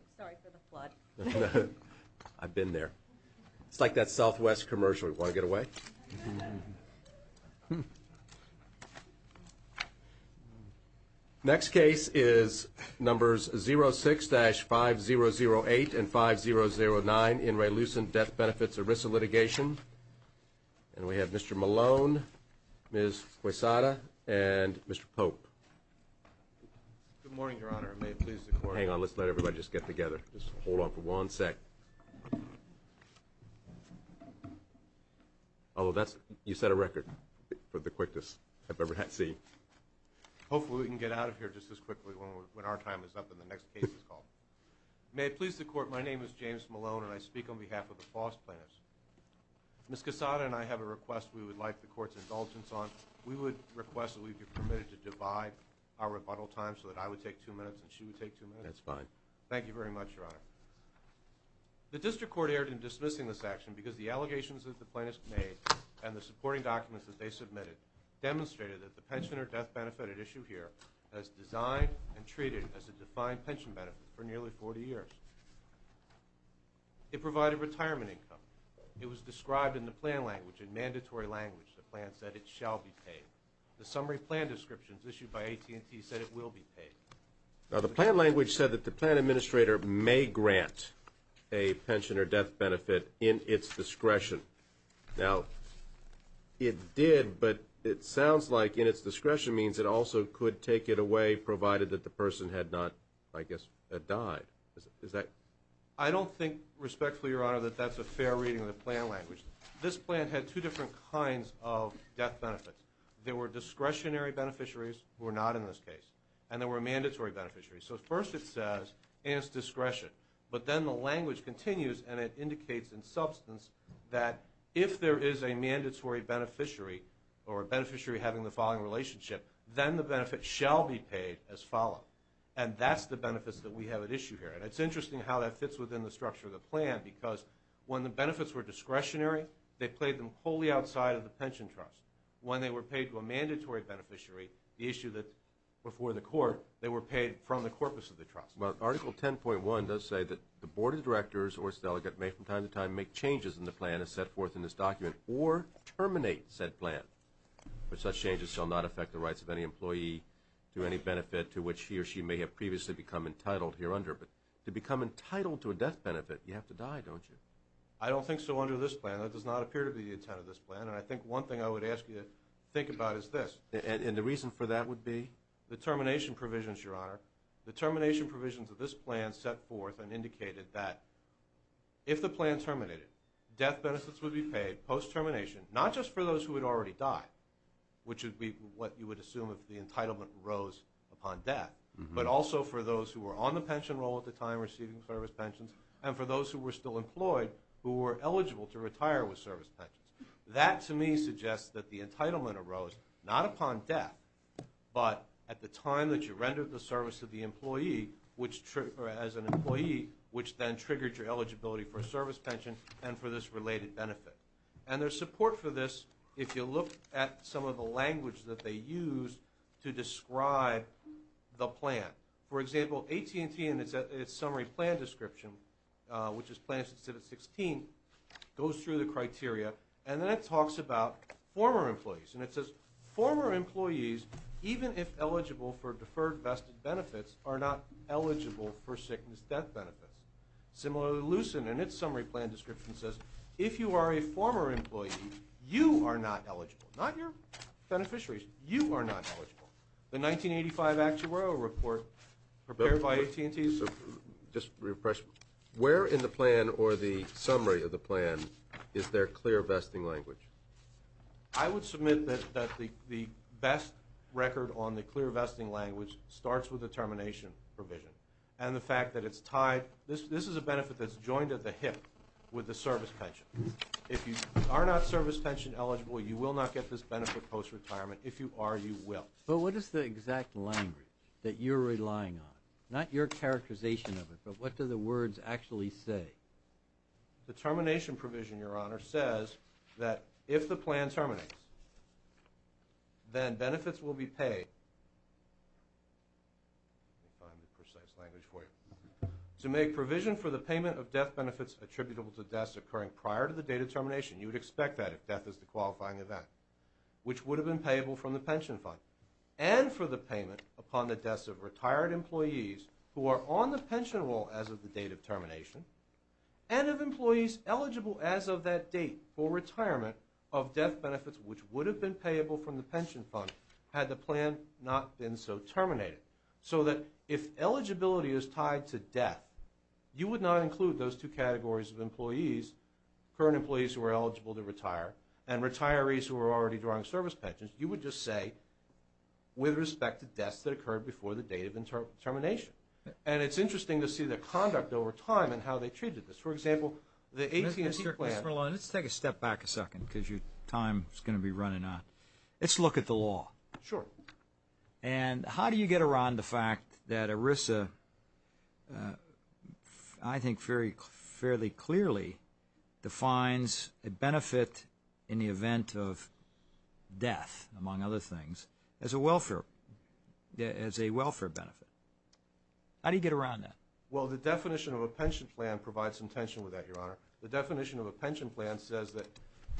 I'm sorry for the flood. I've been there. It's like that Southwest commercial. You want to get away? Next case is numbers 06-5008 and 5009, In Re Lucent, Death Benefits, ERISA Litigation. And we have Mr. Malone, Ms. Quesada, and Mr. Pope. Good morning, Your Honor, and may it please the Court. Hang on. Let's let everybody just get together. Just hold on for one sec. Oh, that's – you set a record for the quickest I've ever seen. Hopefully we can get out of here just as quickly when our time is up and the next case is called. May it please the Court, my name is James Malone, and I speak on behalf of the Foss plaintiffs. Ms. Quesada and I have a request we would like the Court's indulgence on. We would request that we be permitted to divide our rebuttal time so that I would take two minutes and she would take two minutes. That's fine. Thank you very much, Your Honor. The District Court erred in dismissing this action because the allegations that the plaintiffs made and the supporting documents that they submitted demonstrated that the pensioner death benefit at issue here has designed and treated as a defined pension benefit for nearly 40 years. It provided retirement income. It was described in the plan language, in mandatory language. The plan said it shall be paid. The summary plan descriptions issued by AT&T said it will be paid. Now, the plan language said that the plan administrator may grant a pensioner death benefit in its discretion. Now, it did, but it sounds like in its discretion means it also could take it away provided that the person had not, I guess, died. I don't think, respectfully, Your Honor, that that's a fair reading of the plan language. This plan had two different kinds of death benefits. There were discretionary beneficiaries who were not in this case, and there were mandatory beneficiaries. So first it says in its discretion, but then the language continues and it indicates in substance that if there is a mandatory beneficiary or a beneficiary having the following relationship, then the benefit shall be paid as followed. And that's the benefits that we have at issue here. And it's interesting how that fits within the structure of the plan because when the benefits were discretionary, they paid them wholly outside of the pension trust. When they were paid to a mandatory beneficiary, the issue that before the court, they were paid from the corpus of the trust. Well, Article 10.1 does say that the board of directors or its delegate may from time to time make changes in the plan as set forth in this document or terminate said plan. But such changes shall not affect the rights of any employee to any benefit to which he or she may have previously become entitled here under. But to become entitled to a death benefit, you have to die, don't you? I don't think so under this plan. That does not appear to be the intent of this plan. And I think one thing I would ask you to think about is this. And the reason for that would be the termination provisions, Your Honor. The termination provisions of this plan set forth and indicated that if the plan terminated, death benefits would be paid post-termination, not just for those who had already died, which would be what you would assume if the entitlement arose upon death, but also for those who were on the pension roll at the time receiving service pensions and for those who were still employed who were eligible to retire with service pensions. That, to me, suggests that the entitlement arose not upon death, but at the time that you rendered the service to the employee or as an employee, which then triggered your eligibility for a service pension and for this related benefit. And there's support for this if you look at some of the language that they use to describe the plan. For example, AT&T in its summary plan description, which is Plan 16, goes through the criteria, and then it talks about former employees. And it says, Former employees, even if eligible for deferred vested benefits, are not eligible for sickness death benefits. Similarly, Lucent, in its summary plan description, says if you are a former employee, you are not eligible, not your beneficiaries. You are not eligible. The 1985 Actuarial Report prepared by AT&T. So just refresh. Where in the plan or the summary of the plan is there clear vesting language? I would submit that the best record on the clear vesting language starts with the termination provision and the fact that it's tied. This is a benefit that's joined at the hip with the service pension. If you are not service pension eligible, you will not get this benefit post-retirement. If you are, you will. But what is the exact language that you're relying on? Not your characterization of it, but what do the words actually say? The termination provision, Your Honor, says that if the plan terminates, then benefits will be paid. I'll find the precise language for you. To make provision for the payment of death benefits attributable to deaths occurring prior to the date of termination, you would expect that if death is the qualifying event, which would have been payable from the pension fund, and for the payment upon the deaths of retired employees who are on the pension roll as of the date of termination and of employees eligible as of that date for retirement of death benefits, which would have been payable from the pension fund had the plan not been so terminated, so that if eligibility is tied to death, you would not include those two categories of employees, current employees who are eligible to retire and retirees who are already drawing service pensions. You would just say, with respect to deaths that occurred before the date of termination. And it's interesting to see their conduct over time and how they treated this. For example, the 18th district plan… Mr. Merlone, let's take a step back a second because your time is going to be running out. Let's look at the law. Sure. And how do you get around the fact that ERISA, I think fairly clearly, defines a benefit in the event of death, among other things, as a welfare benefit? How do you get around that? Well, the definition of a pension plan provides some tension with that, Your Honor. The definition of a pension plan says that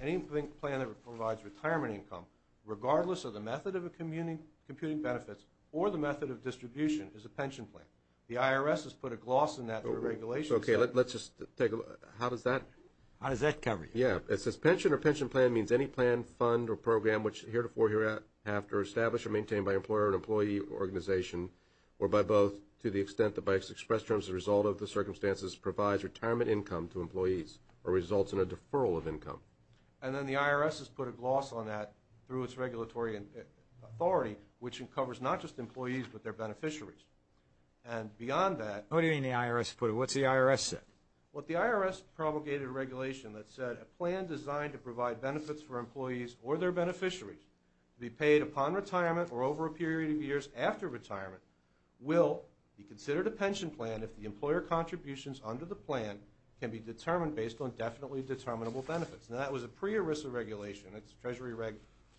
any plan that provides retirement income, regardless of the method of computing benefits or the method of distribution, is a pension plan. The IRS has put a gloss on that through regulations. Okay, let's just take a look. How does that… How does that cover it? Yeah. It says pension or pension plan means any plan, fund, or program, which heretofore, hereafter, established or maintained by employer or employee organization, or by both, to the extent that by expressed terms, the result of the circumstances provides retirement income to employees or results in a deferral of income. And then the IRS has put a gloss on that through its regulatory authority, which covers not just employees but their beneficiaries. And beyond that… What do you mean the IRS put it? What's the IRS say? Well, the IRS promulgated a regulation that said, a plan designed to provide benefits for employees or their beneficiaries to be paid upon retirement or over a period of years after retirement will be considered a pension plan if the employer contributions under the plan can be determined based on definitely determinable benefits. Now, that was a pre-ERISA regulation. It's Treasury Reg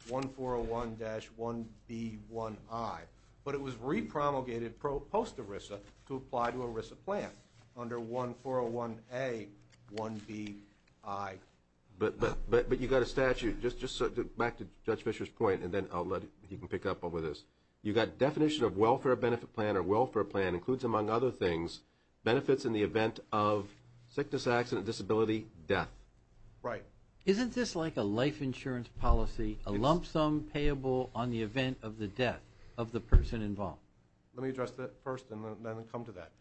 1401-1B1I. But it was re-promulgated post-ERISA to apply to an ERISA plan under 1401A-1BI. But you've got a statute. Just back to Judge Fischer's point, and then I'll let him pick up over this. You've got definition of welfare benefit plan or welfare plan includes, among other things, benefits in the event of sickness, accident, disability, death. Right. Isn't this like a life insurance policy, a lump sum payable on the event of the death of the person involved? Let me address that first, and then I'll come to that.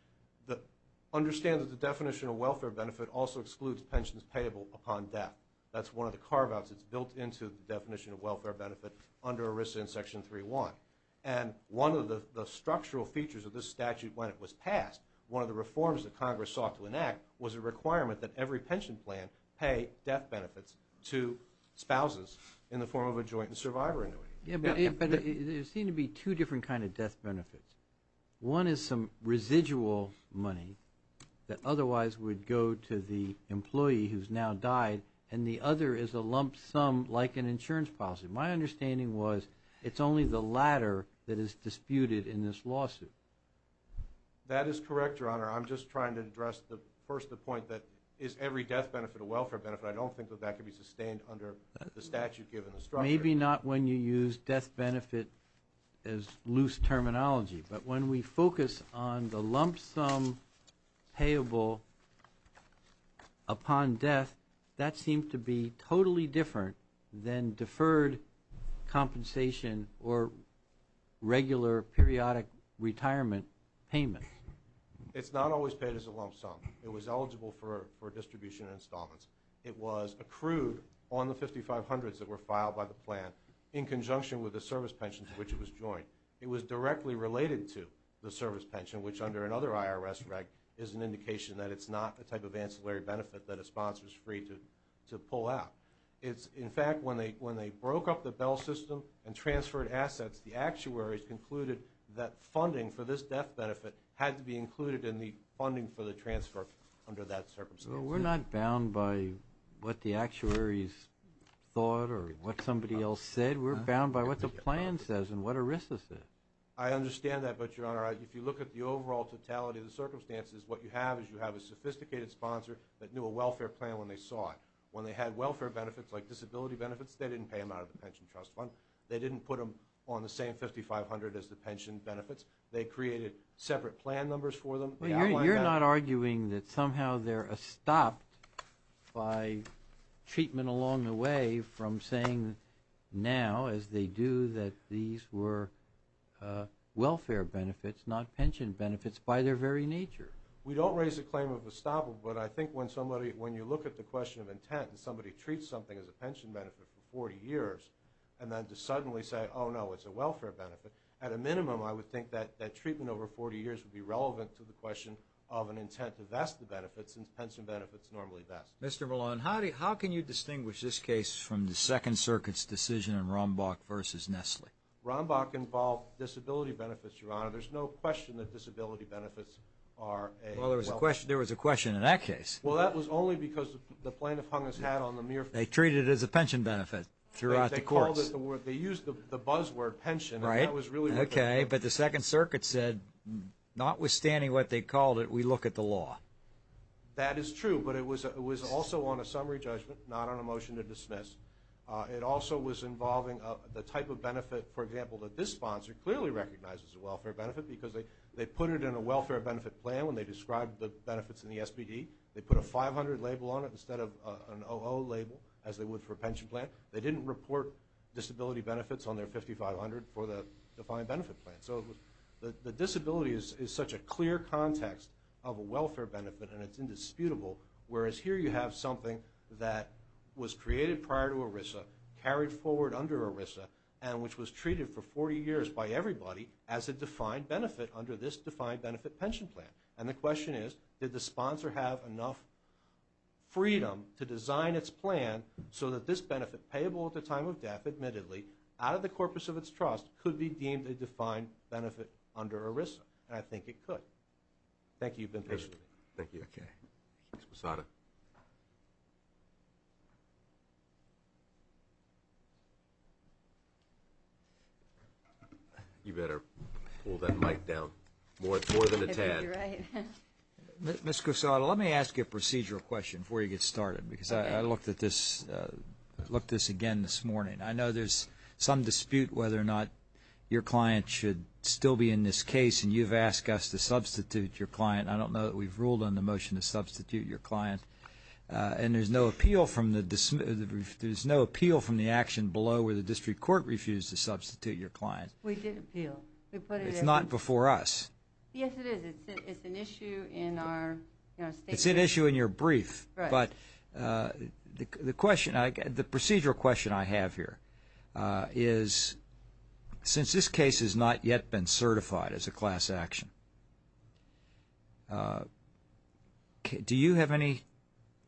Understand that the definition of welfare benefit also excludes pensions payable upon death. That's one of the carve-outs that's built into the definition of welfare benefit under ERISA in Section 3.1. And one of the structural features of this statute when it was passed, one of the reforms that Congress sought to enact, was a requirement that every pension plan pay death benefits to spouses in the form of a joint and survivor annuity. Yeah, but there seem to be two different kind of death benefits. One is some residual money that otherwise would go to the employee who's now died, and the other is a lump sum like an insurance policy. My understanding was it's only the latter that is disputed in this lawsuit. That is correct, Your Honor. I'm just trying to address first the point that is every death benefit a welfare benefit? I don't think that that could be sustained under the statute given the structure. Maybe not when you use death benefit as loose terminology, but when we focus on the lump sum payable upon death, that seems to be totally different than deferred compensation or regular periodic retirement payment. It's not always paid as a lump sum. It was eligible for distribution installments. It was accrued on the 5,500s that were filed by the plan in conjunction with the service pension to which it was joined. It was directly related to the service pension, which under another IRS reg is an indication that it's not a type of ancillary benefit that a sponsor is free to pull out. In fact, when they broke up the Bell system and transferred assets, the actuaries concluded that funding for this death benefit had to be included in the funding for the transfer under that circumstance. We're not bound by what the actuaries thought or what somebody else said. We're bound by what the plan says and what ERISA says. I understand that, but, Your Honor, if you look at the overall totality of the circumstances, what you have is you have a sophisticated sponsor that knew a welfare plan when they saw it. When they had welfare benefits like disability benefits, they didn't pay them out of the pension trust fund. They didn't put them on the same 5,500 as the pension benefits. They created separate plan numbers for them. You're not arguing that somehow they're stopped by treatment along the way from saying now, as they do, that these were welfare benefits, not pension benefits by their very nature? We don't raise the claim of estoppel, but I think when somebody, when you look at the question of intent, if somebody treats something as a pension benefit for 40 years and then to suddenly say, oh, no, it's a welfare benefit, at a minimum I would think that that treatment over 40 years would be relevant to the question of an intent to vest the benefits since pension benefits normally vest. Mr. Malone, how can you distinguish this case from the Second Circuit's decision in Rombach v. Nestle? Rombach involved disability benefits, Your Honor. There's no question that disability benefits are a welfare benefit. Well, there was a question in that case. Well, that was only because the plaintiff hung his hat on the mere fact. They treated it as a pension benefit throughout the courts. They called it the word. They used the buzzword pension, and that was really what they did. Okay, but the Second Circuit said notwithstanding what they called it, we look at the law. That is true, but it was also on a summary judgment, not on a motion to dismiss. It also was involving the type of benefit, for example, that this sponsor clearly recognizes as a welfare benefit because they put it in a welfare benefit plan when they described the benefits in the SBD. They put a 500 label on it instead of an 00 label, as they would for a pension plan. They didn't report disability benefits on their 5500 for the defined benefit plan. So the disability is such a clear context of a welfare benefit, and it's indisputable, carried forward under ERISA, and which was treated for 40 years by everybody as a defined benefit under this defined benefit pension plan. And the question is, did the sponsor have enough freedom to design its plan so that this benefit, payable at the time of death, admittedly, out of the corpus of its trust, could be deemed a defined benefit under ERISA? And I think it could. Thank you. You've been patient. Thank you. Ms. Cusato. You better pull that mic down more than a tad. I bet you're right. Ms. Cusato, let me ask you a procedural question before you get started because I looked at this again this morning. I know there's some dispute whether or not your client should still be in this case, and you've asked us to substitute your client. I don't know that we've ruled on the motion to substitute your client, and there's no appeal from the action below where the district court refused to substitute your client. We did appeal. It's not before us. Yes, it is. It's an issue in our state. It's an issue in your brief. Right. The procedural question I have here is since this case has not yet been certified as a class action, do you have any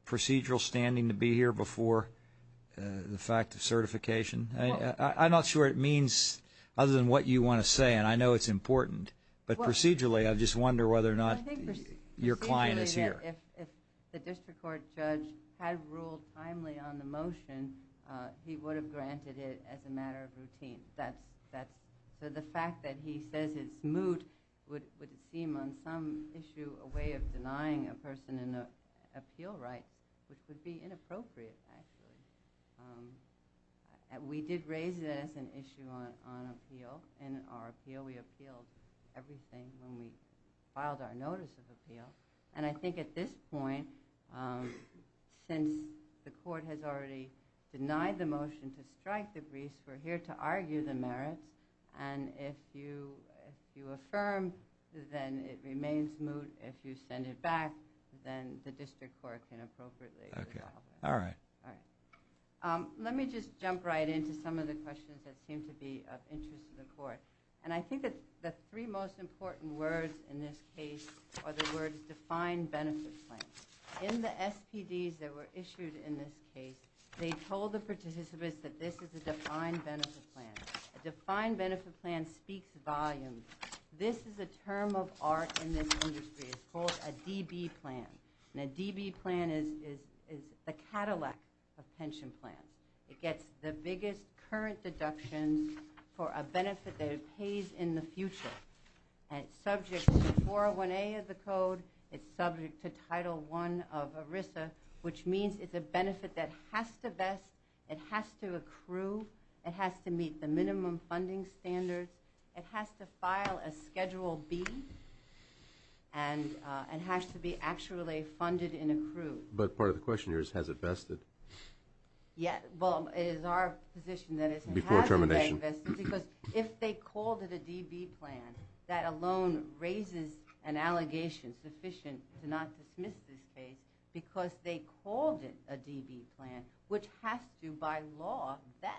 procedural standing to be here before the fact of certification? I'm not sure it means other than what you want to say, and I know it's important. But procedurally, I just wonder whether or not your client is here. If the district court judge had ruled timely on the motion, he would have granted it as a matter of routine. So the fact that he says it's moot would seem on some issue a way of denying a person an appeal right, which would be inappropriate, actually. We did raise it as an issue on appeal. In our appeal, we appealed everything when we filed our notice of appeal, and I think at this point, since the court has already denied the motion to strike the briefs, we're here to argue the merits, and if you affirm, then it remains moot. If you send it back, then the district court can appropriately resolve it. Okay. All right. All right. Let me just jump right into some of the questions that seem to be of interest to the court, and I think that the three most important words in this case are the words defined benefit plan. In the SPDs that were issued in this case, they told the participants that this is a defined benefit plan. A defined benefit plan speaks volumes. This is a term of art in this industry. It's called a DB plan, and a DB plan is the Cadillac of pension plans. It gets the biggest current deductions for a benefit that it pays in the future, and it's subject to 401A of the code. It's subject to Title I of ERISA, which means it's a benefit that has to vest. It has to accrue. It has to meet the minimum funding standards. It has to file a Schedule B, and it has to be actually funded and accrued. But part of the question here is has it vested? Yeah. Well, it is our position that it hasn't been vested because if they called it a DB plan, that alone raises an allegation sufficient to not dismiss this case because they called it a DB plan, which has to, by law, vest.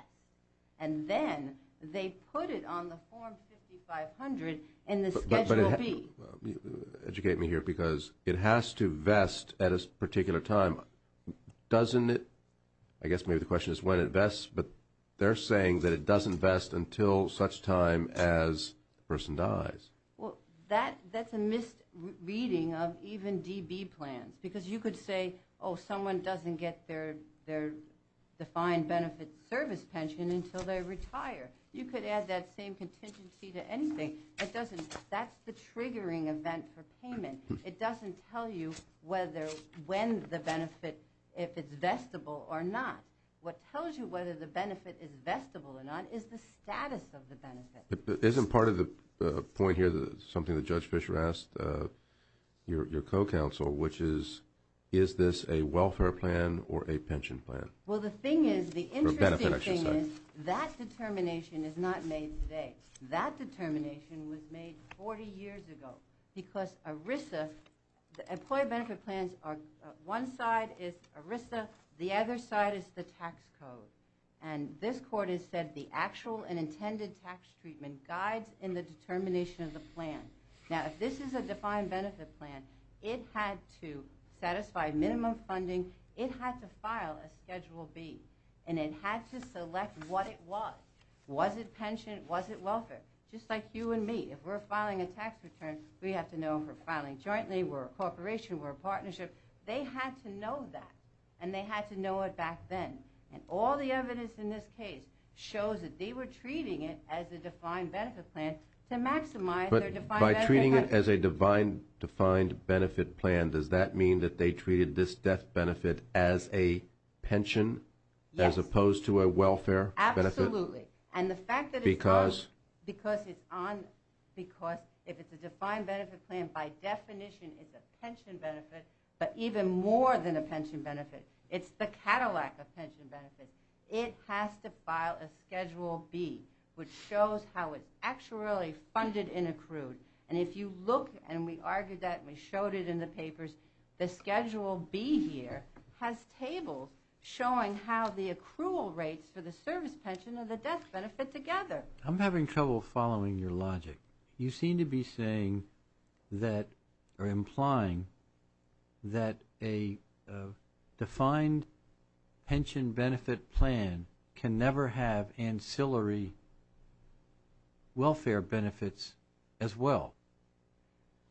And then they put it on the Form 5500 in the Schedule B. Educate me here because it has to vest at a particular time. Doesn't it? I guess maybe the question is when it vests, but they're saying that it doesn't vest until such time as the person dies. Well, that's a misreading of even DB plans because you could say, oh, someone doesn't get their defined benefit service pension until they retire. You could add that same contingency to anything. That's the triggering event for payment. It doesn't tell you whether when the benefit, if it's vestible or not. What tells you whether the benefit is vestible or not is the status of the benefit. Isn't part of the point here something that Judge Fischer asked your co-counsel, which is, is this a welfare plan or a pension plan? Well, the thing is, the interesting thing is that determination is not made today. That determination was made 40 years ago because ERISA, Employee Benefit Plans, one side is ERISA, the other side is the tax code. And this court has said the actual and intended tax treatment guides in the determination of the plan. Now, if this is a defined benefit plan, it had to satisfy minimum funding. It had to file a Schedule B, and it had to select what it was. Was it pension? Was it welfare? Just like you and me, if we're filing a tax return, we have to know if we're filing jointly, we're a corporation, we're a partnership. They had to know that, and they had to know it back then. And all the evidence in this case shows that they were treating it as a defined benefit plan to maximize their defined benefit plan. But by treating it as a defined benefit plan, does that mean that they treated this death benefit as a pension as opposed to a welfare benefit? Absolutely. Because? Because if it's a defined benefit plan, by definition it's a pension benefit, but even more than a pension benefit. It's the Cadillac of pension benefits. It has to file a Schedule B, which shows how it's actually funded and accrued. And if you look, and we argued that and we showed it in the papers, the Schedule B here has tables showing how the accrual rates for the service pension and the death benefit together. I'm having trouble following your logic. You seem to be saying that or implying that a defined pension benefit plan can never have ancillary welfare benefits as well.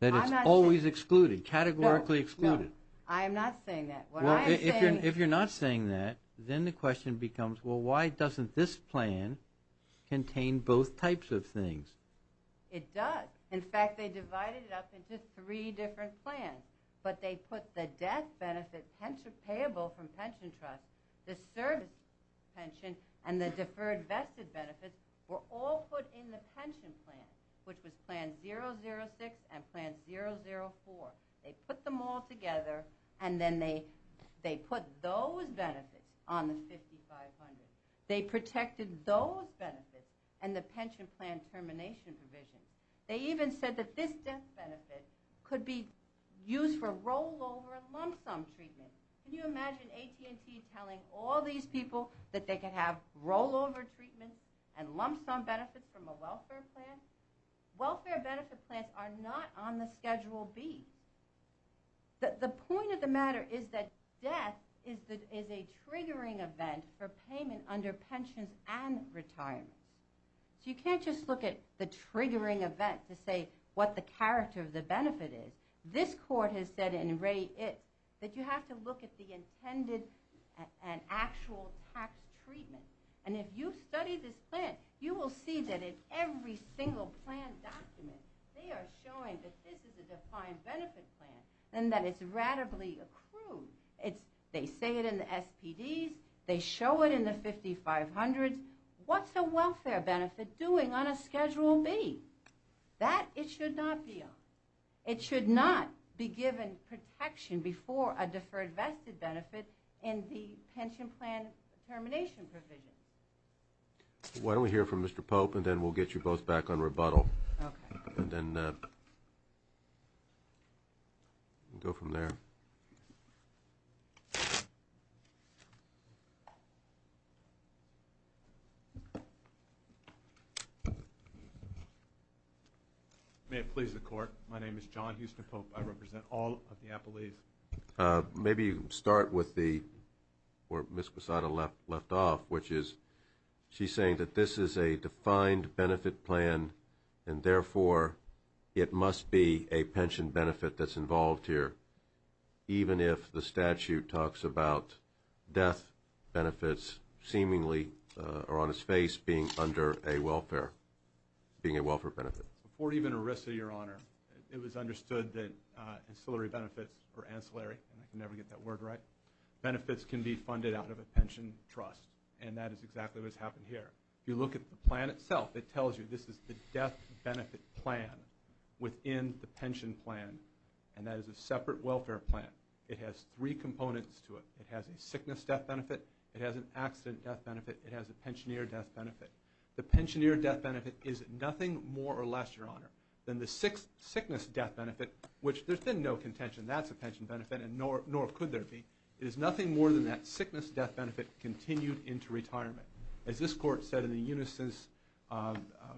That it's always excluded, categorically excluded. I'm not saying that. If you're not saying that, then the question becomes, well, why doesn't this plan contain both types of things? It does. In fact, they divided it up into three different plans. But they put the death benefit payable from pension trust, the service pension, and the deferred vested benefits were all put in the pension plan, which was plan 006 and plan 004. They put them all together and then they put those benefits on the 5500. They protected those benefits and the pension plan termination provision. They even said that this death benefit could be used for rollover and lump sum treatment. Can you imagine AT&T telling all these people that they could have rollover treatment and lump sum benefits from a welfare plan? Welfare benefit plans are not on the Schedule B. The point of the matter is that death is a triggering event for payment under pensions and retirement. So you can't just look at the triggering event to say what the character of the benefit is. This court has said in Ray Itt that you have to look at the intended and actual tax treatment. And if you study this plan, you will see that in every single plan document they are showing that this is a defined benefit plan and that it's readily accrued. They say it in the SPDs. They show it in the 5500s. What's a welfare benefit doing on a Schedule B? That it should not be on. It should not be given protection before a deferred vested benefit in the pension plan termination provision. Why don't we hear from Mr. Pope and then we'll get you both back on rebuttal. Okay. And then we'll go from there. Thank you. May it please the Court, my name is John Houston Pope. I represent all of the appellees. Maybe you can start with where Ms. Quesada left off, which is she's saying that this is a defined benefit plan and therefore it must be a pension benefit that's involved here, even if the statute talks about death benefits seemingly or on its face being under a welfare benefit. Before even ERISA, Your Honor, it was understood that ancillary benefits or ancillary, and I can never get that word right, benefits can be funded out of a pension trust. And that is exactly what's happened here. If you look at the plan itself, it tells you this is the death benefit plan within the pension plan. And that is a separate welfare plan. It has three components to it. It has a sickness death benefit. It has an accident death benefit. It has a pensioner death benefit. The pensioner death benefit is nothing more or less, Your Honor, than the sickness death benefit, which there's been no contention that's a pension benefit and nor could there be. It is nothing more than that sickness death benefit continued into retirement. As this Court said in the Unisys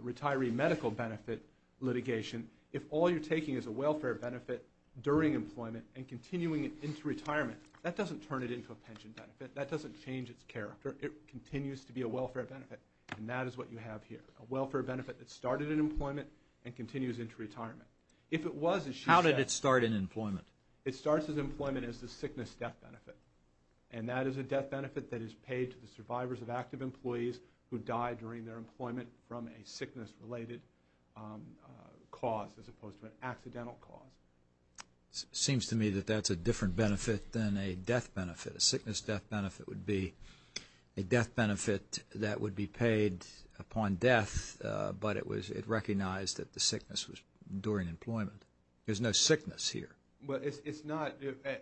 retiree medical benefit litigation, if all you're taking is a welfare benefit during employment and continuing it into retirement, that doesn't turn it into a pension benefit. That doesn't change its character. It continues to be a welfare benefit, and that is what you have here, a welfare benefit that started in employment and continues into retirement. If it was, as she said. How did it start in employment? It starts in employment as the sickness death benefit, and that is a death benefit that is paid to the survivors of active employees who died during their employment from a sickness-related cause as opposed to an accidental cause. It seems to me that that's a different benefit than a death benefit. A sickness death benefit would be a death benefit that would be paid upon death, but it recognized that the sickness was during employment. There's no sickness here. Well, it's not.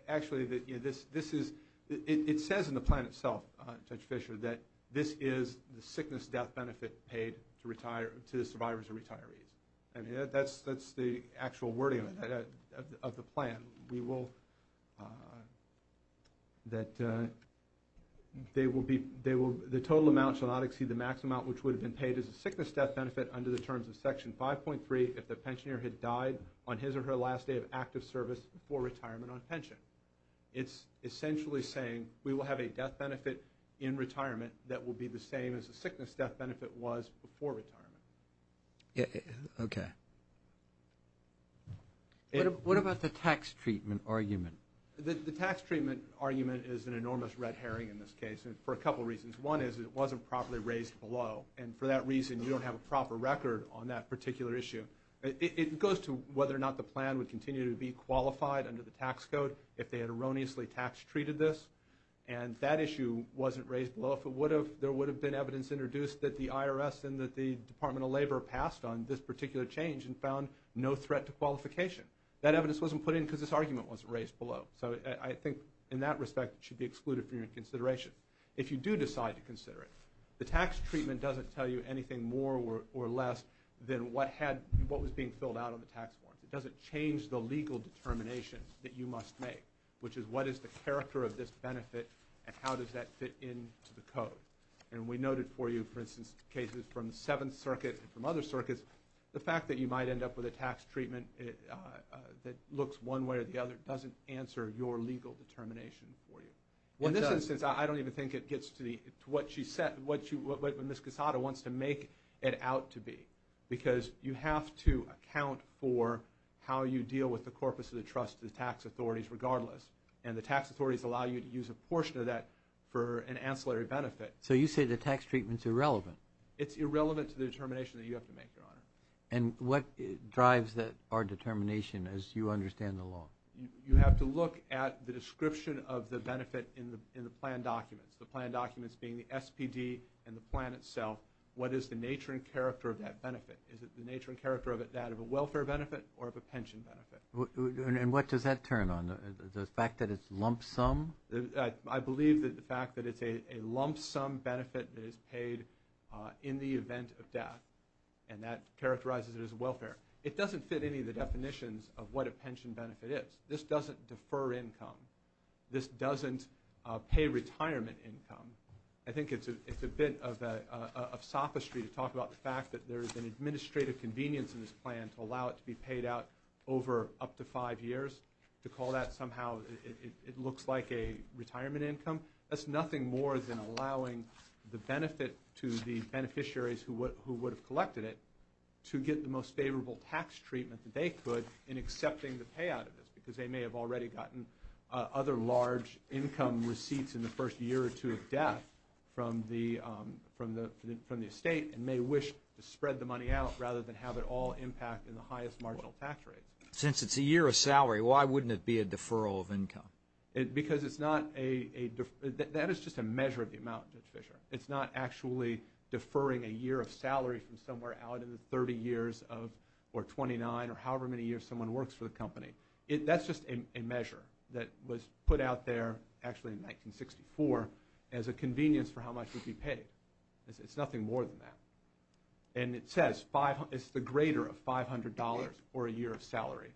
Actually, it says in the plan itself, Judge Fischer, that this is the sickness death benefit paid to the survivors of retirees. That's the actual wording of the plan. The total amount shall not exceed the maximum amount which would have been paid as a sickness death benefit under the terms of Section 5.3 if the pensioner had died on his or her last day of active service before retirement on pension. It's essentially saying we will have a death benefit in retirement that will be the same as the sickness death benefit was before retirement. Okay. What about the tax treatment argument? The tax treatment argument is an enormous red herring in this case for a couple reasons. One is it wasn't properly raised below, and for that reason you don't have a proper record on that particular issue. It goes to whether or not the plan would continue to be qualified under the tax code if they had erroneously tax-treated this, and that issue wasn't raised below. If it would have, there would have been evidence introduced that the IRS and that the Department of Labor passed on this particular change and found no threat to qualification. That evidence wasn't put in because this argument wasn't raised below. So I think in that respect it should be excluded from your consideration. If you do decide to consider it, the tax treatment doesn't tell you anything more or less than what was being filled out on the tax form. It doesn't change the legal determination that you must make, which is what is the character of this benefit and how does that fit into the code. And we noted for you, for instance, cases from the Seventh Circuit and from other circuits, the fact that you might end up with a tax treatment that looks one way or the other doesn't answer your legal determination for you. In this instance, I don't even think it gets to what Ms. Quesada wants to make it out to be because you have to account for how you deal with the corpus of the trust, the tax authorities regardless, and the tax authorities allow you to use a portion of that for an ancillary benefit. So you say the tax treatment is irrelevant. It's irrelevant to the determination that you have to make, Your Honor. And what drives our determination as you understand the law? You have to look at the description of the benefit in the plan documents, the plan documents being the SPD and the plan itself. What is the nature and character of that benefit? Is it the nature and character of it that of a welfare benefit or of a pension benefit? And what does that turn on? The fact that it's lump sum? I believe that the fact that it's a lump sum benefit that is paid in the event of death and that characterizes it as welfare. It doesn't fit any of the definitions of what a pension benefit is. This doesn't defer income. This doesn't pay retirement income. I think it's a bit of sophistry to talk about the fact that there is an administrative convenience in this plan to allow it to be paid out over up to five years, to call that somehow it looks like a retirement income. That's nothing more than allowing the benefit to the beneficiaries who would have collected it to get the most favorable tax treatment that they could in accepting the payout of this because they may have already gotten other large income receipts in the first year or two of death from the estate and may wish to spread the money out rather than have it all impact in the highest marginal tax rate. Since it's a year of salary, why wouldn't it be a deferral of income? Because it's not a deferral. It's not actually deferring a year of salary from somewhere out in the 30 years or 29 or however many years someone works for the company. That's just a measure that was put out there actually in 1964 as a convenience for how much would be paid. It's nothing more than that. And it says it's the greater of $500 or a year of salary.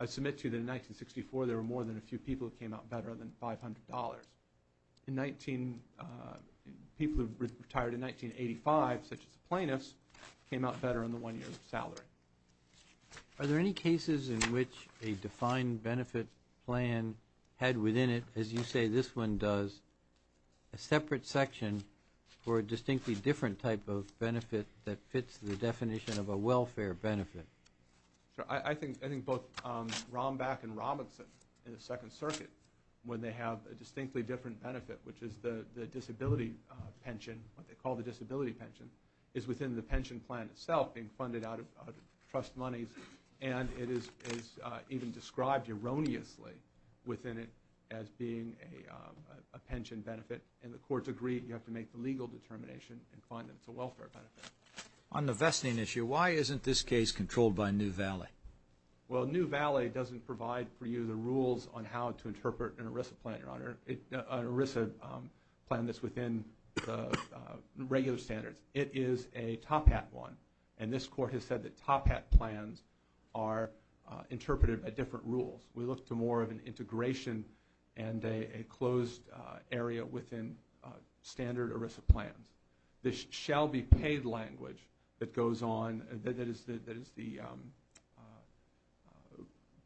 I submit to you that in 1964 there were more than a few people who came out better than $500. People who retired in 1985, such as plaintiffs, came out better in the one year of salary. Are there any cases in which a defined benefit plan had within it, as you say this one does, a separate section for a distinctly different type of benefit that fits the definition of a welfare benefit? I think both Rombach and Robinson in the Second Circuit, when they have a distinctly different benefit, which is the disability pension, what they call the disability pension, is within the pension plan itself being funded out of trust monies. And it is even described erroneously within it as being a pension benefit. And the courts agree you have to make the legal determination and find that it's a welfare benefit. On the vesting issue, why isn't this case controlled by New Valley? Well, New Valley doesn't provide for you the rules on how to interpret an ERISA plan, Your Honor, an ERISA plan that's within the regular standards. It is a top hat one. And this court has said that top hat plans are interpreted by different rules. We look to more of an integration and a closed area within standard ERISA plans. This shall be paid language that is the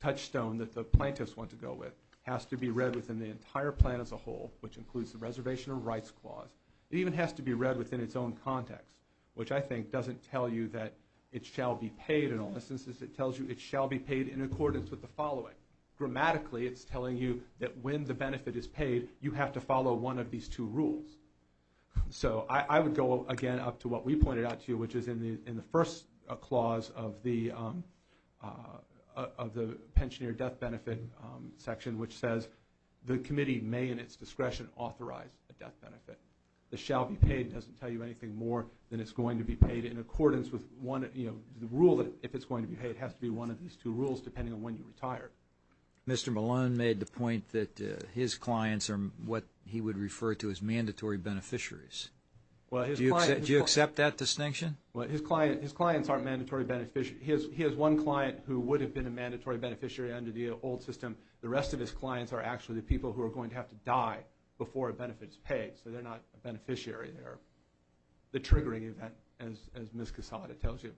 touchstone that the plaintiffs want to go with has to be read within the entire plan as a whole, which includes the reservation of rights clause. It even has to be read within its own context, which I think doesn't tell you that it shall be paid in all instances. It tells you it shall be paid in accordance with the following. Grammatically, it's telling you that when the benefit is paid, you have to follow one of these two rules. So I would go again up to what we pointed out to you, which is in the first clause of the pensioner death benefit section, which says the committee may in its discretion authorize a death benefit. The shall be paid doesn't tell you anything more than it's going to be paid in accordance with one, you know, the rule that if it's going to be paid, it has to be one of these two rules depending on when you retire. Mr. Malone made the point that his clients are what he would refer to as mandatory beneficiaries. Do you accept that distinction? Well, his clients aren't mandatory beneficiaries. He has one client who would have been a mandatory beneficiary under the old system. The rest of his clients are actually the people who are going to have to die before a benefit is paid. So they're not a beneficiary. They're the triggering event, as Ms. Quesada tells you.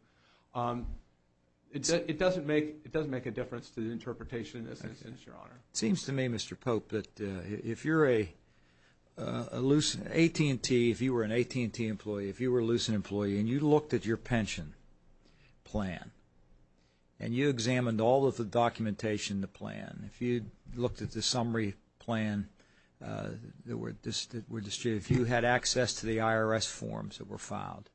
It doesn't make a difference to the interpretation in this instance, Your Honor. It seems to me, Mr. Pope, that if you're a loose AT&T, if you were an AT&T employee, if you were a loose employee and you looked at your pension plan and you examined all of the documentation in the plan, if you looked at the summary plan that were distributed, if you had access to the IRS forms that were filed,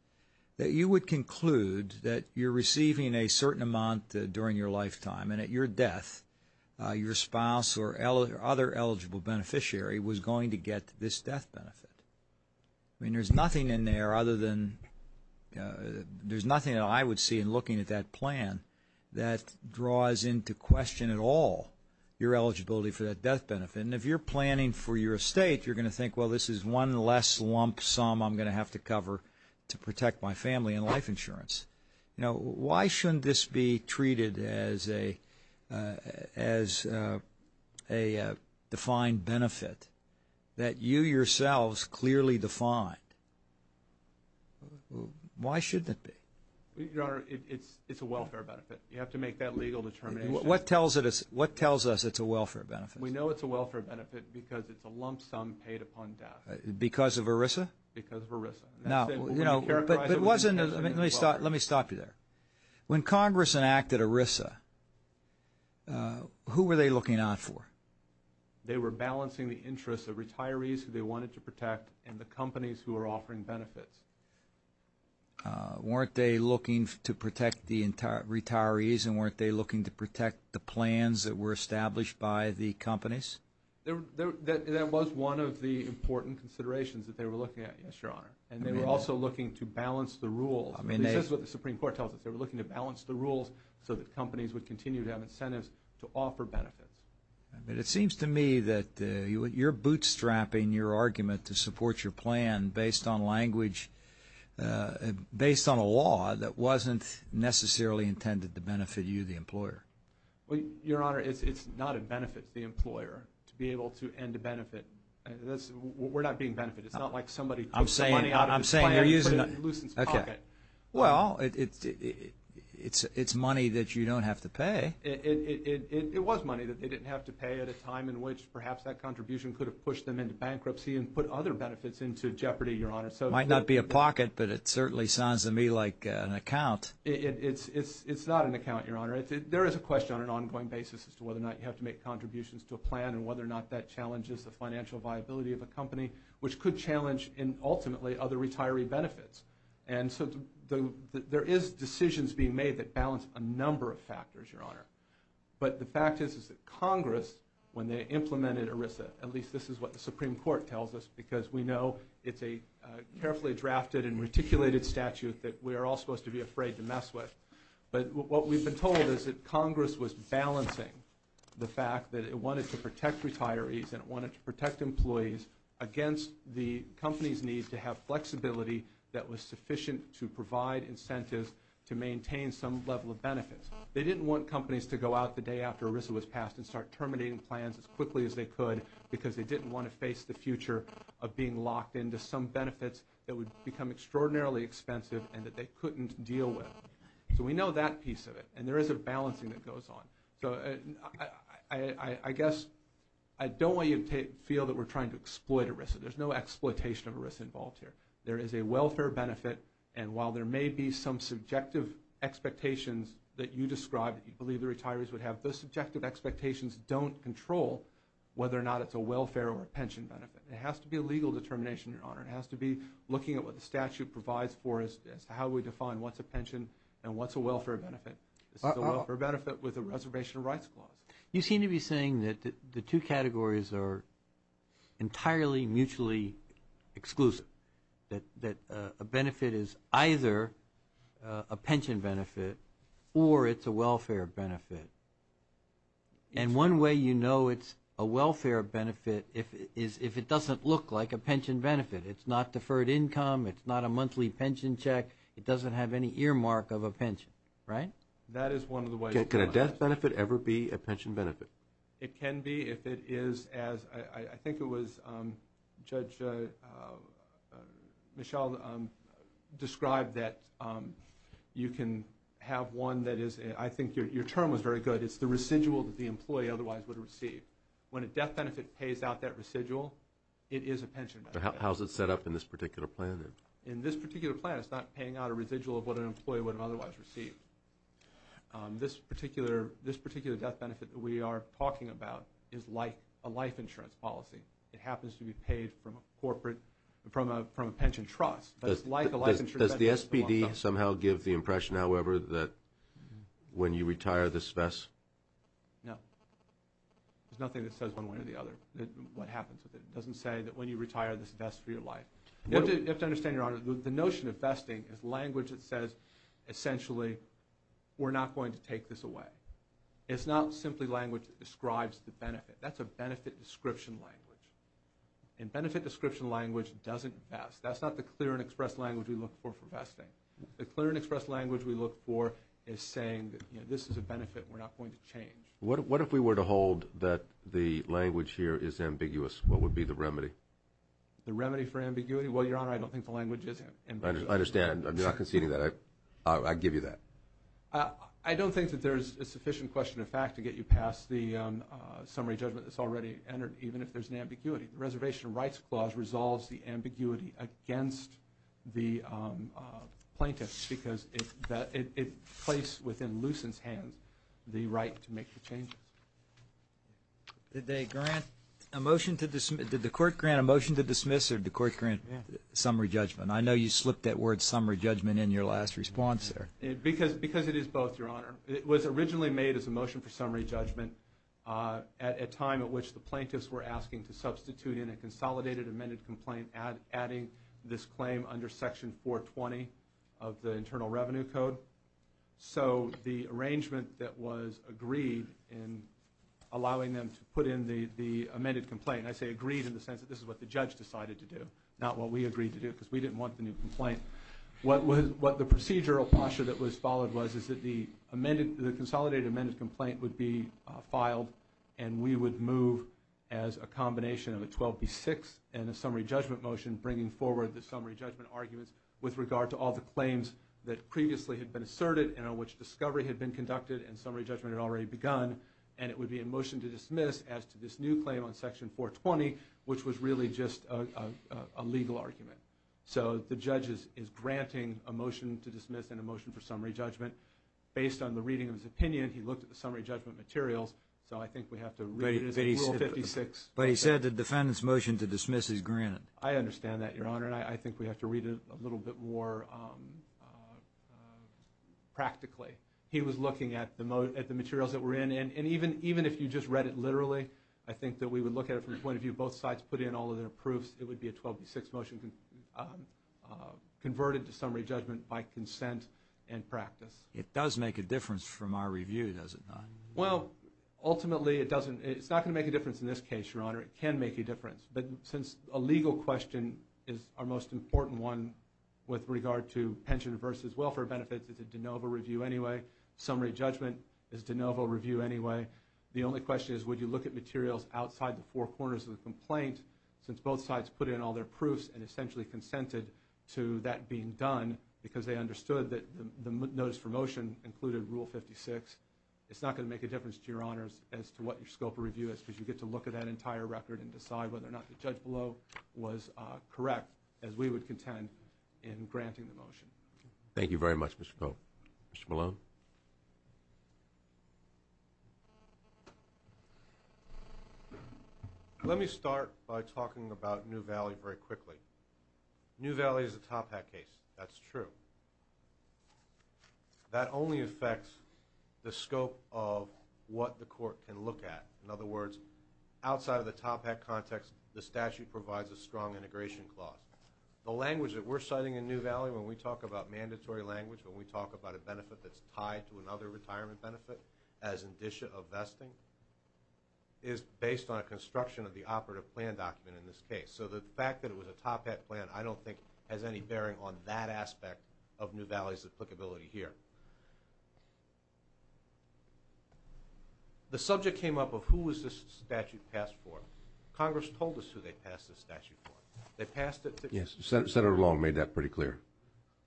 that you would conclude that you're receiving a certain amount during your lifetime and at your death your spouse or other eligible beneficiary was going to get this death benefit. I mean, there's nothing in there other than there's nothing that I would see in looking at that plan that draws into question at all your eligibility for that death benefit. And if you're planning for your estate, you're going to think, well, this is one less lump sum I'm going to have to cover to protect my family and life insurance. Now, why shouldn't this be treated as a defined benefit that you yourselves clearly defined? Why shouldn't it be? Your Honor, it's a welfare benefit. You have to make that legal determination. What tells us it's a welfare benefit? We know it's a welfare benefit because it's a lump sum paid upon death. Because of ERISA? Because of ERISA. Let me stop you there. When Congress enacted ERISA, who were they looking out for? They were balancing the interests of retirees who they wanted to protect and the companies who were offering benefits. Weren't they looking to protect the retirees and weren't they looking to protect the plans that were established by the companies? That was one of the important considerations that they were looking at, yes, Your Honor. And they were also looking to balance the rules. This is what the Supreme Court tells us. They were looking to balance the rules so that companies would continue to have incentives to offer benefits. It seems to me that you're bootstrapping your argument to support your plan based on language, based on a law that wasn't necessarily intended to benefit you, the employer. Well, Your Honor, it's not a benefit to the employer to be able to end a benefit. We're not being benefited. It's not like somebody took the money out of the plan and put it in a nuisance pocket. Well, it's money that you don't have to pay. It was money that they didn't have to pay at a time in which perhaps that contribution could have pushed them into bankruptcy and put other benefits into jeopardy, Your Honor. It might not be a pocket, but it certainly sounds to me like an account. It's not an account, Your Honor. There is a question on an ongoing basis as to whether or not you have to make contributions to a plan and whether or not that challenges the financial viability of a company, which could challenge ultimately other retiree benefits. And so there is decisions being made that balance a number of factors, Your Honor. But the fact is that Congress, when they implemented ERISA, at least this is what the Supreme Court tells us because we know it's a carefully drafted and reticulated statute that we are all supposed to be afraid to mess with. But what we've been told is that Congress was balancing the fact that it wanted to protect retirees and it wanted to protect employees against the company's need to have flexibility that was sufficient to provide incentives to maintain some level of benefits. They didn't want companies to go out the day after ERISA was passed and start terminating plans as quickly as they could because they didn't want to face the future of being locked into some benefits that would become extraordinarily expensive and that they couldn't deal with. So we know that piece of it, and there is a balancing that goes on. So I guess I don't want you to feel that we're trying to exploit ERISA. There's no exploitation of ERISA involved here. There is a welfare benefit, and while there may be some subjective expectations that you describe that you believe the retirees would have, those subjective expectations don't control whether or not it's a welfare or a pension benefit. It has to be a legal determination, Your Honor. It has to be looking at what the statute provides for us as to how we define what's a pension and what's a welfare benefit. This is a welfare benefit with a reservation of rights clause. You seem to be saying that the two categories are entirely mutually exclusive, that a benefit is either a pension benefit or it's a welfare benefit. And one way you know it's a welfare benefit is if it doesn't look like a pension benefit. It's not deferred income. It's not a monthly pension check. It doesn't have any earmark of a pension, right? That is one of the ways. Can a death benefit ever be a pension benefit? It can be if it is as I think it was Judge Michelle described that you can have one that is, I think your term was very good, it's the residual that the employee otherwise would receive. When a death benefit pays out that residual, it is a pension benefit. How is it set up in this particular plan then? In this particular plan, it's not paying out a residual of what an employee would have otherwise received. This particular death benefit that we are talking about is like a life insurance policy. It happens to be paid from a pension trust, but it's like a life insurance policy. Does the SPD somehow give the impression, however, that when you retire, this vests? No. There's nothing that says one way or the other what happens with it. It doesn't say that when you retire, this vests for your life. You have to understand, Your Honor, the notion of vesting is language that says essentially we're not going to take this away. It's not simply language that describes the benefit. That's a benefit description language. A benefit description language doesn't vest. That's not the clear and express language we look for for vesting. The clear and express language we look for is saying this is a benefit, we're not going to change. What if we were to hold that the language here is ambiguous? What would be the remedy? The remedy for ambiguity? Well, Your Honor, I don't think the language is ambiguous. I understand. I'm not conceding that. I give you that. I don't think that there's a sufficient question of fact to get you past the summary judgment that's already entered, even if there's an ambiguity. The Reservation Rights Clause resolves the ambiguity against the plaintiffs because it places within Lucent's hands the right to make the changes. Did the court grant a motion to dismiss or did the court grant summary judgment? I know you slipped that word summary judgment in your last response there. Because it is both, Your Honor. It was originally made as a motion for summary judgment at a time at which the plaintiffs were asking to substitute in a consolidated amended complaint adding this claim under Section 420 of the Internal Revenue Code. So the arrangement that was agreed in allowing them to put in the amended complaint, and I say agreed in the sense that this is what the judge decided to do, not what we agreed to do because we didn't want the new complaint. What the procedural posture that was followed was is that the consolidated amended complaint would be filed and we would move as a combination of a 12B6 and a summary judgment motion and bringing forward the summary judgment arguments with regard to all the claims that previously had been asserted and on which discovery had been conducted and summary judgment had already begun. And it would be a motion to dismiss as to this new claim on Section 420, which was really just a legal argument. So the judge is granting a motion to dismiss and a motion for summary judgment. Based on the reading of his opinion, he looked at the summary judgment materials, so I think we have to read it as Rule 56. But he said the defendant's motion to dismiss is granted. I understand that, Your Honor, and I think we have to read it a little bit more practically. He was looking at the materials that were in, and even if you just read it literally, I think that we would look at it from the point of view both sides put in all of their proofs. It would be a 12B6 motion converted to summary judgment by consent and practice. It does make a difference from our review, does it not? Well, ultimately it doesn't. It's not going to make a difference in this case, Your Honor. It can make a difference, but since a legal question is our most important one with regard to pension versus welfare benefits, it's a de novo review anyway. Summary judgment is de novo review anyway. The only question is would you look at materials outside the four corners of the complaint since both sides put in all their proofs and essentially consented to that being done because they understood that the notice for motion included Rule 56. It's not going to make a difference to Your Honors as to what your scope of review is because you get to look at that entire record and decide whether or not the judge below was correct as we would contend in granting the motion. Thank you very much, Mr. Cope. Mr. Malone? Let me start by talking about New Valley very quickly. New Valley is a top hat case. That's true. That only affects the scope of what the court can look at. In other words, outside of the top hat context, the statute provides a strong integration clause. The language that we're citing in New Valley when we talk about mandatory language, when we talk about a benefit that's tied to another retirement benefit as indicia of vesting, is based on a construction of the operative plan document in this case. So the fact that it was a top hat plan I don't think has any bearing on that aspect of New Valley's applicability here. The subject came up of who was this statute passed for. Congress told us who they passed this statute for. They passed it to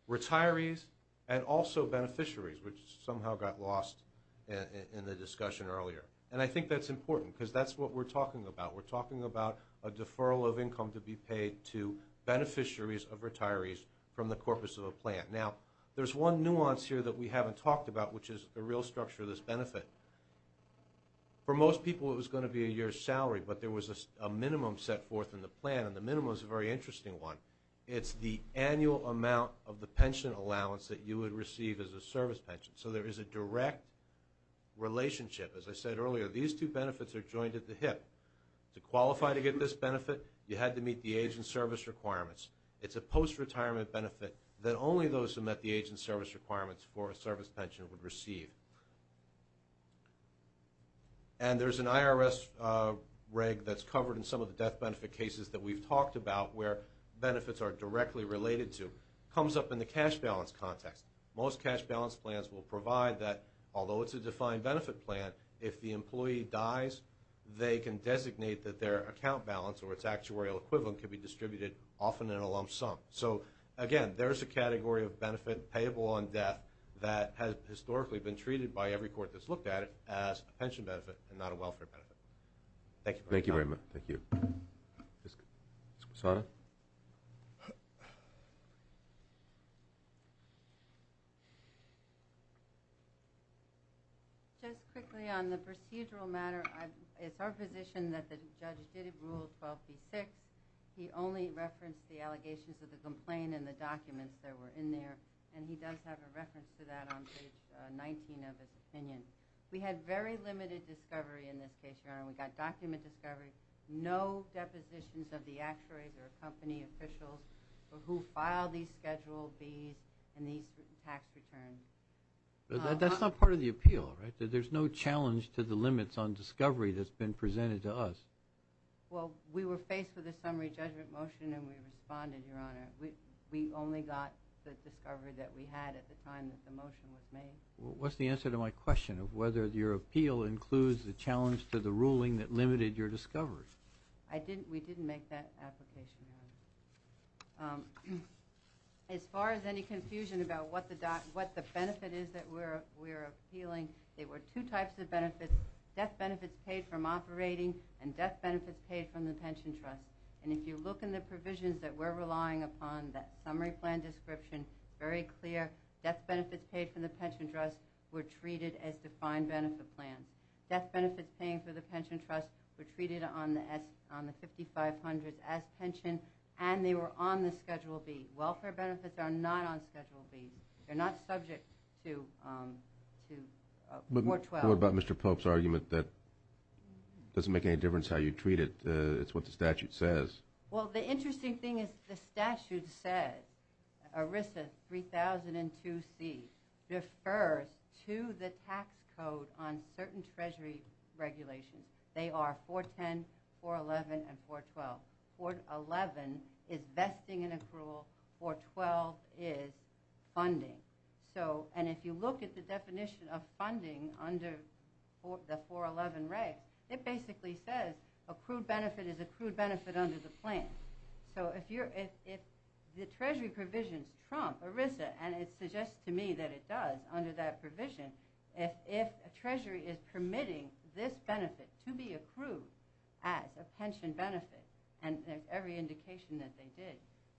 retirees and also beneficiaries, which somehow got lost in the discussion earlier. And I think that's important because that's what we're talking about. We're talking about a deferral of income to be paid to beneficiaries of retirees from the corpus of a plan. Now, there's one nuance here that we haven't talked about, which is the real structure of this benefit. For most people it was going to be a year's salary, but there was a minimum set forth in the plan, and the minimum is a very interesting one. It's the annual amount of the pension allowance that you would receive as a service pension. So there is a direct relationship. As I said earlier, these two benefits are joined at the hip. To qualify to get this benefit, you had to meet the age and service requirements. It's a post-retirement benefit that only those who met the age and service requirements for a service pension would receive. And there's an IRS reg that's covered in some of the death benefit cases that we've talked about where benefits are directly related to. It comes up in the cash balance context. Most cash balance plans will provide that, although it's a defined benefit plan, if the employee dies, they can designate that their account balance or its actuarial equivalent can be distributed often in a lump sum. So again, there's a category of benefit payable on death that has historically been treated by every court that's looked at it as a pension benefit and not a welfare benefit. Thank you very much. Thank you. Ms. Cassano? Just quickly on the procedural matter, it's our position that the judge didn't rule 12b-6. He only referenced the allegations of the complaint and the documents that were in there, and he does have a reference to that on page 19 of his opinion. We had very limited discovery in this case, Your Honor. We got document discovery, no depositions of the actuaries or company officials who filed these Schedule Bs and these tax returns. That's not part of the appeal, right? There's no challenge to the limits on discovery that's been presented to us. Well, we were faced with a summary judgment motion, and we responded, Your Honor. We only got the discovery that we had at the time that the motion was made. What's the answer to my question of whether your appeal includes the challenge to the ruling that limited your discovery? We didn't make that application, Your Honor. As far as any confusion about what the benefit is that we're appealing, there were two types of benefits, death benefits paid from operating and death benefits paid from the pension trust. And if you look in the provisions that we're relying upon, that summary plan description, very clear, death benefits paid from the pension trust were treated as defined benefit plans. Death benefits paid for the pension trust were treated on the 5500 as pension, and they were on the Schedule B. Welfare benefits are not on Schedule B. They're not subject to 412. What about Mr. Pope's argument that it doesn't make any difference how you treat it, it's what the statute says? Well, the interesting thing is the statute said, ERISA 3002C refers to the tax code on certain Treasury regulations. They are 410, 411, and 412. 411 is vesting and accrual, 412 is funding. And if you look at the definition of funding under the 411 reg, it basically says accrued benefit is accrued benefit under the plan. So if the Treasury provisions trump ERISA, and it suggests to me that it does under that provision, if a Treasury is permitting this benefit to be accrued as a pension benefit, and every indication that they did,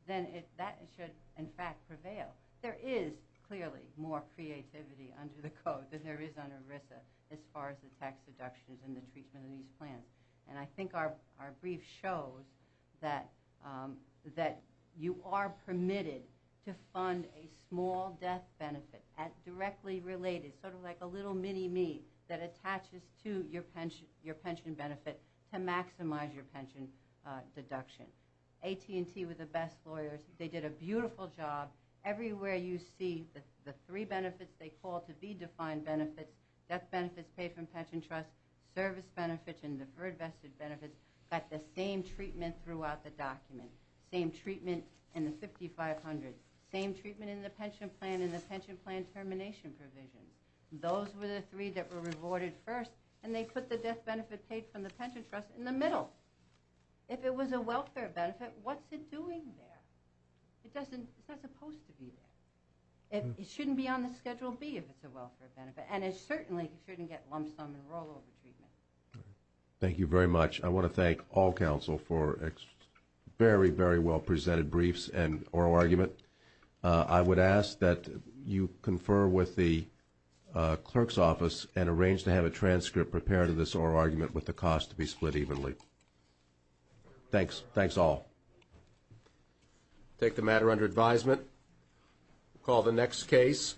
then that should in fact prevail. There is clearly more creativity under the code than there is under ERISA as far as the tax deductions and the treatment of these plans. And I think our brief shows that you are permitted to fund a small death benefit directly related, sort of like a little mini-me, that attaches to your pension benefit to maximize your pension deduction. AT&T were the best lawyers. They did a beautiful job. Everywhere you see the three benefits they call to be defined benefits, death benefits paid from pension trust, service benefits, and deferred vested benefits, got the same treatment throughout the document. Same treatment in the 5500. Same treatment in the pension plan and the pension plan termination provision. Those were the three that were rewarded first, and they put the death benefit paid from the pension trust in the middle. If it was a welfare benefit, what's it doing there? It's not supposed to be there. It shouldn't be on the Schedule B if it's a welfare benefit, and it certainly shouldn't get lump sum and rollover treatment. Thank you very much. I want to thank all counsel for very, very well presented briefs and oral argument. I would ask that you confer with the clerk's office and arrange to have a transcript prepared of this oral argument with the cost to be split evenly. Thanks. Thanks all. Take the matter under advisement. Call the next case.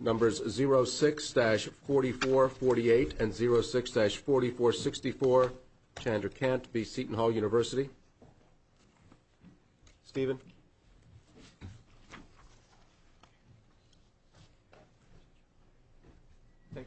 Numbers 06-4448 and 06-4464. Chandra Kant, B. Seton Hall University. Thank you, Todd.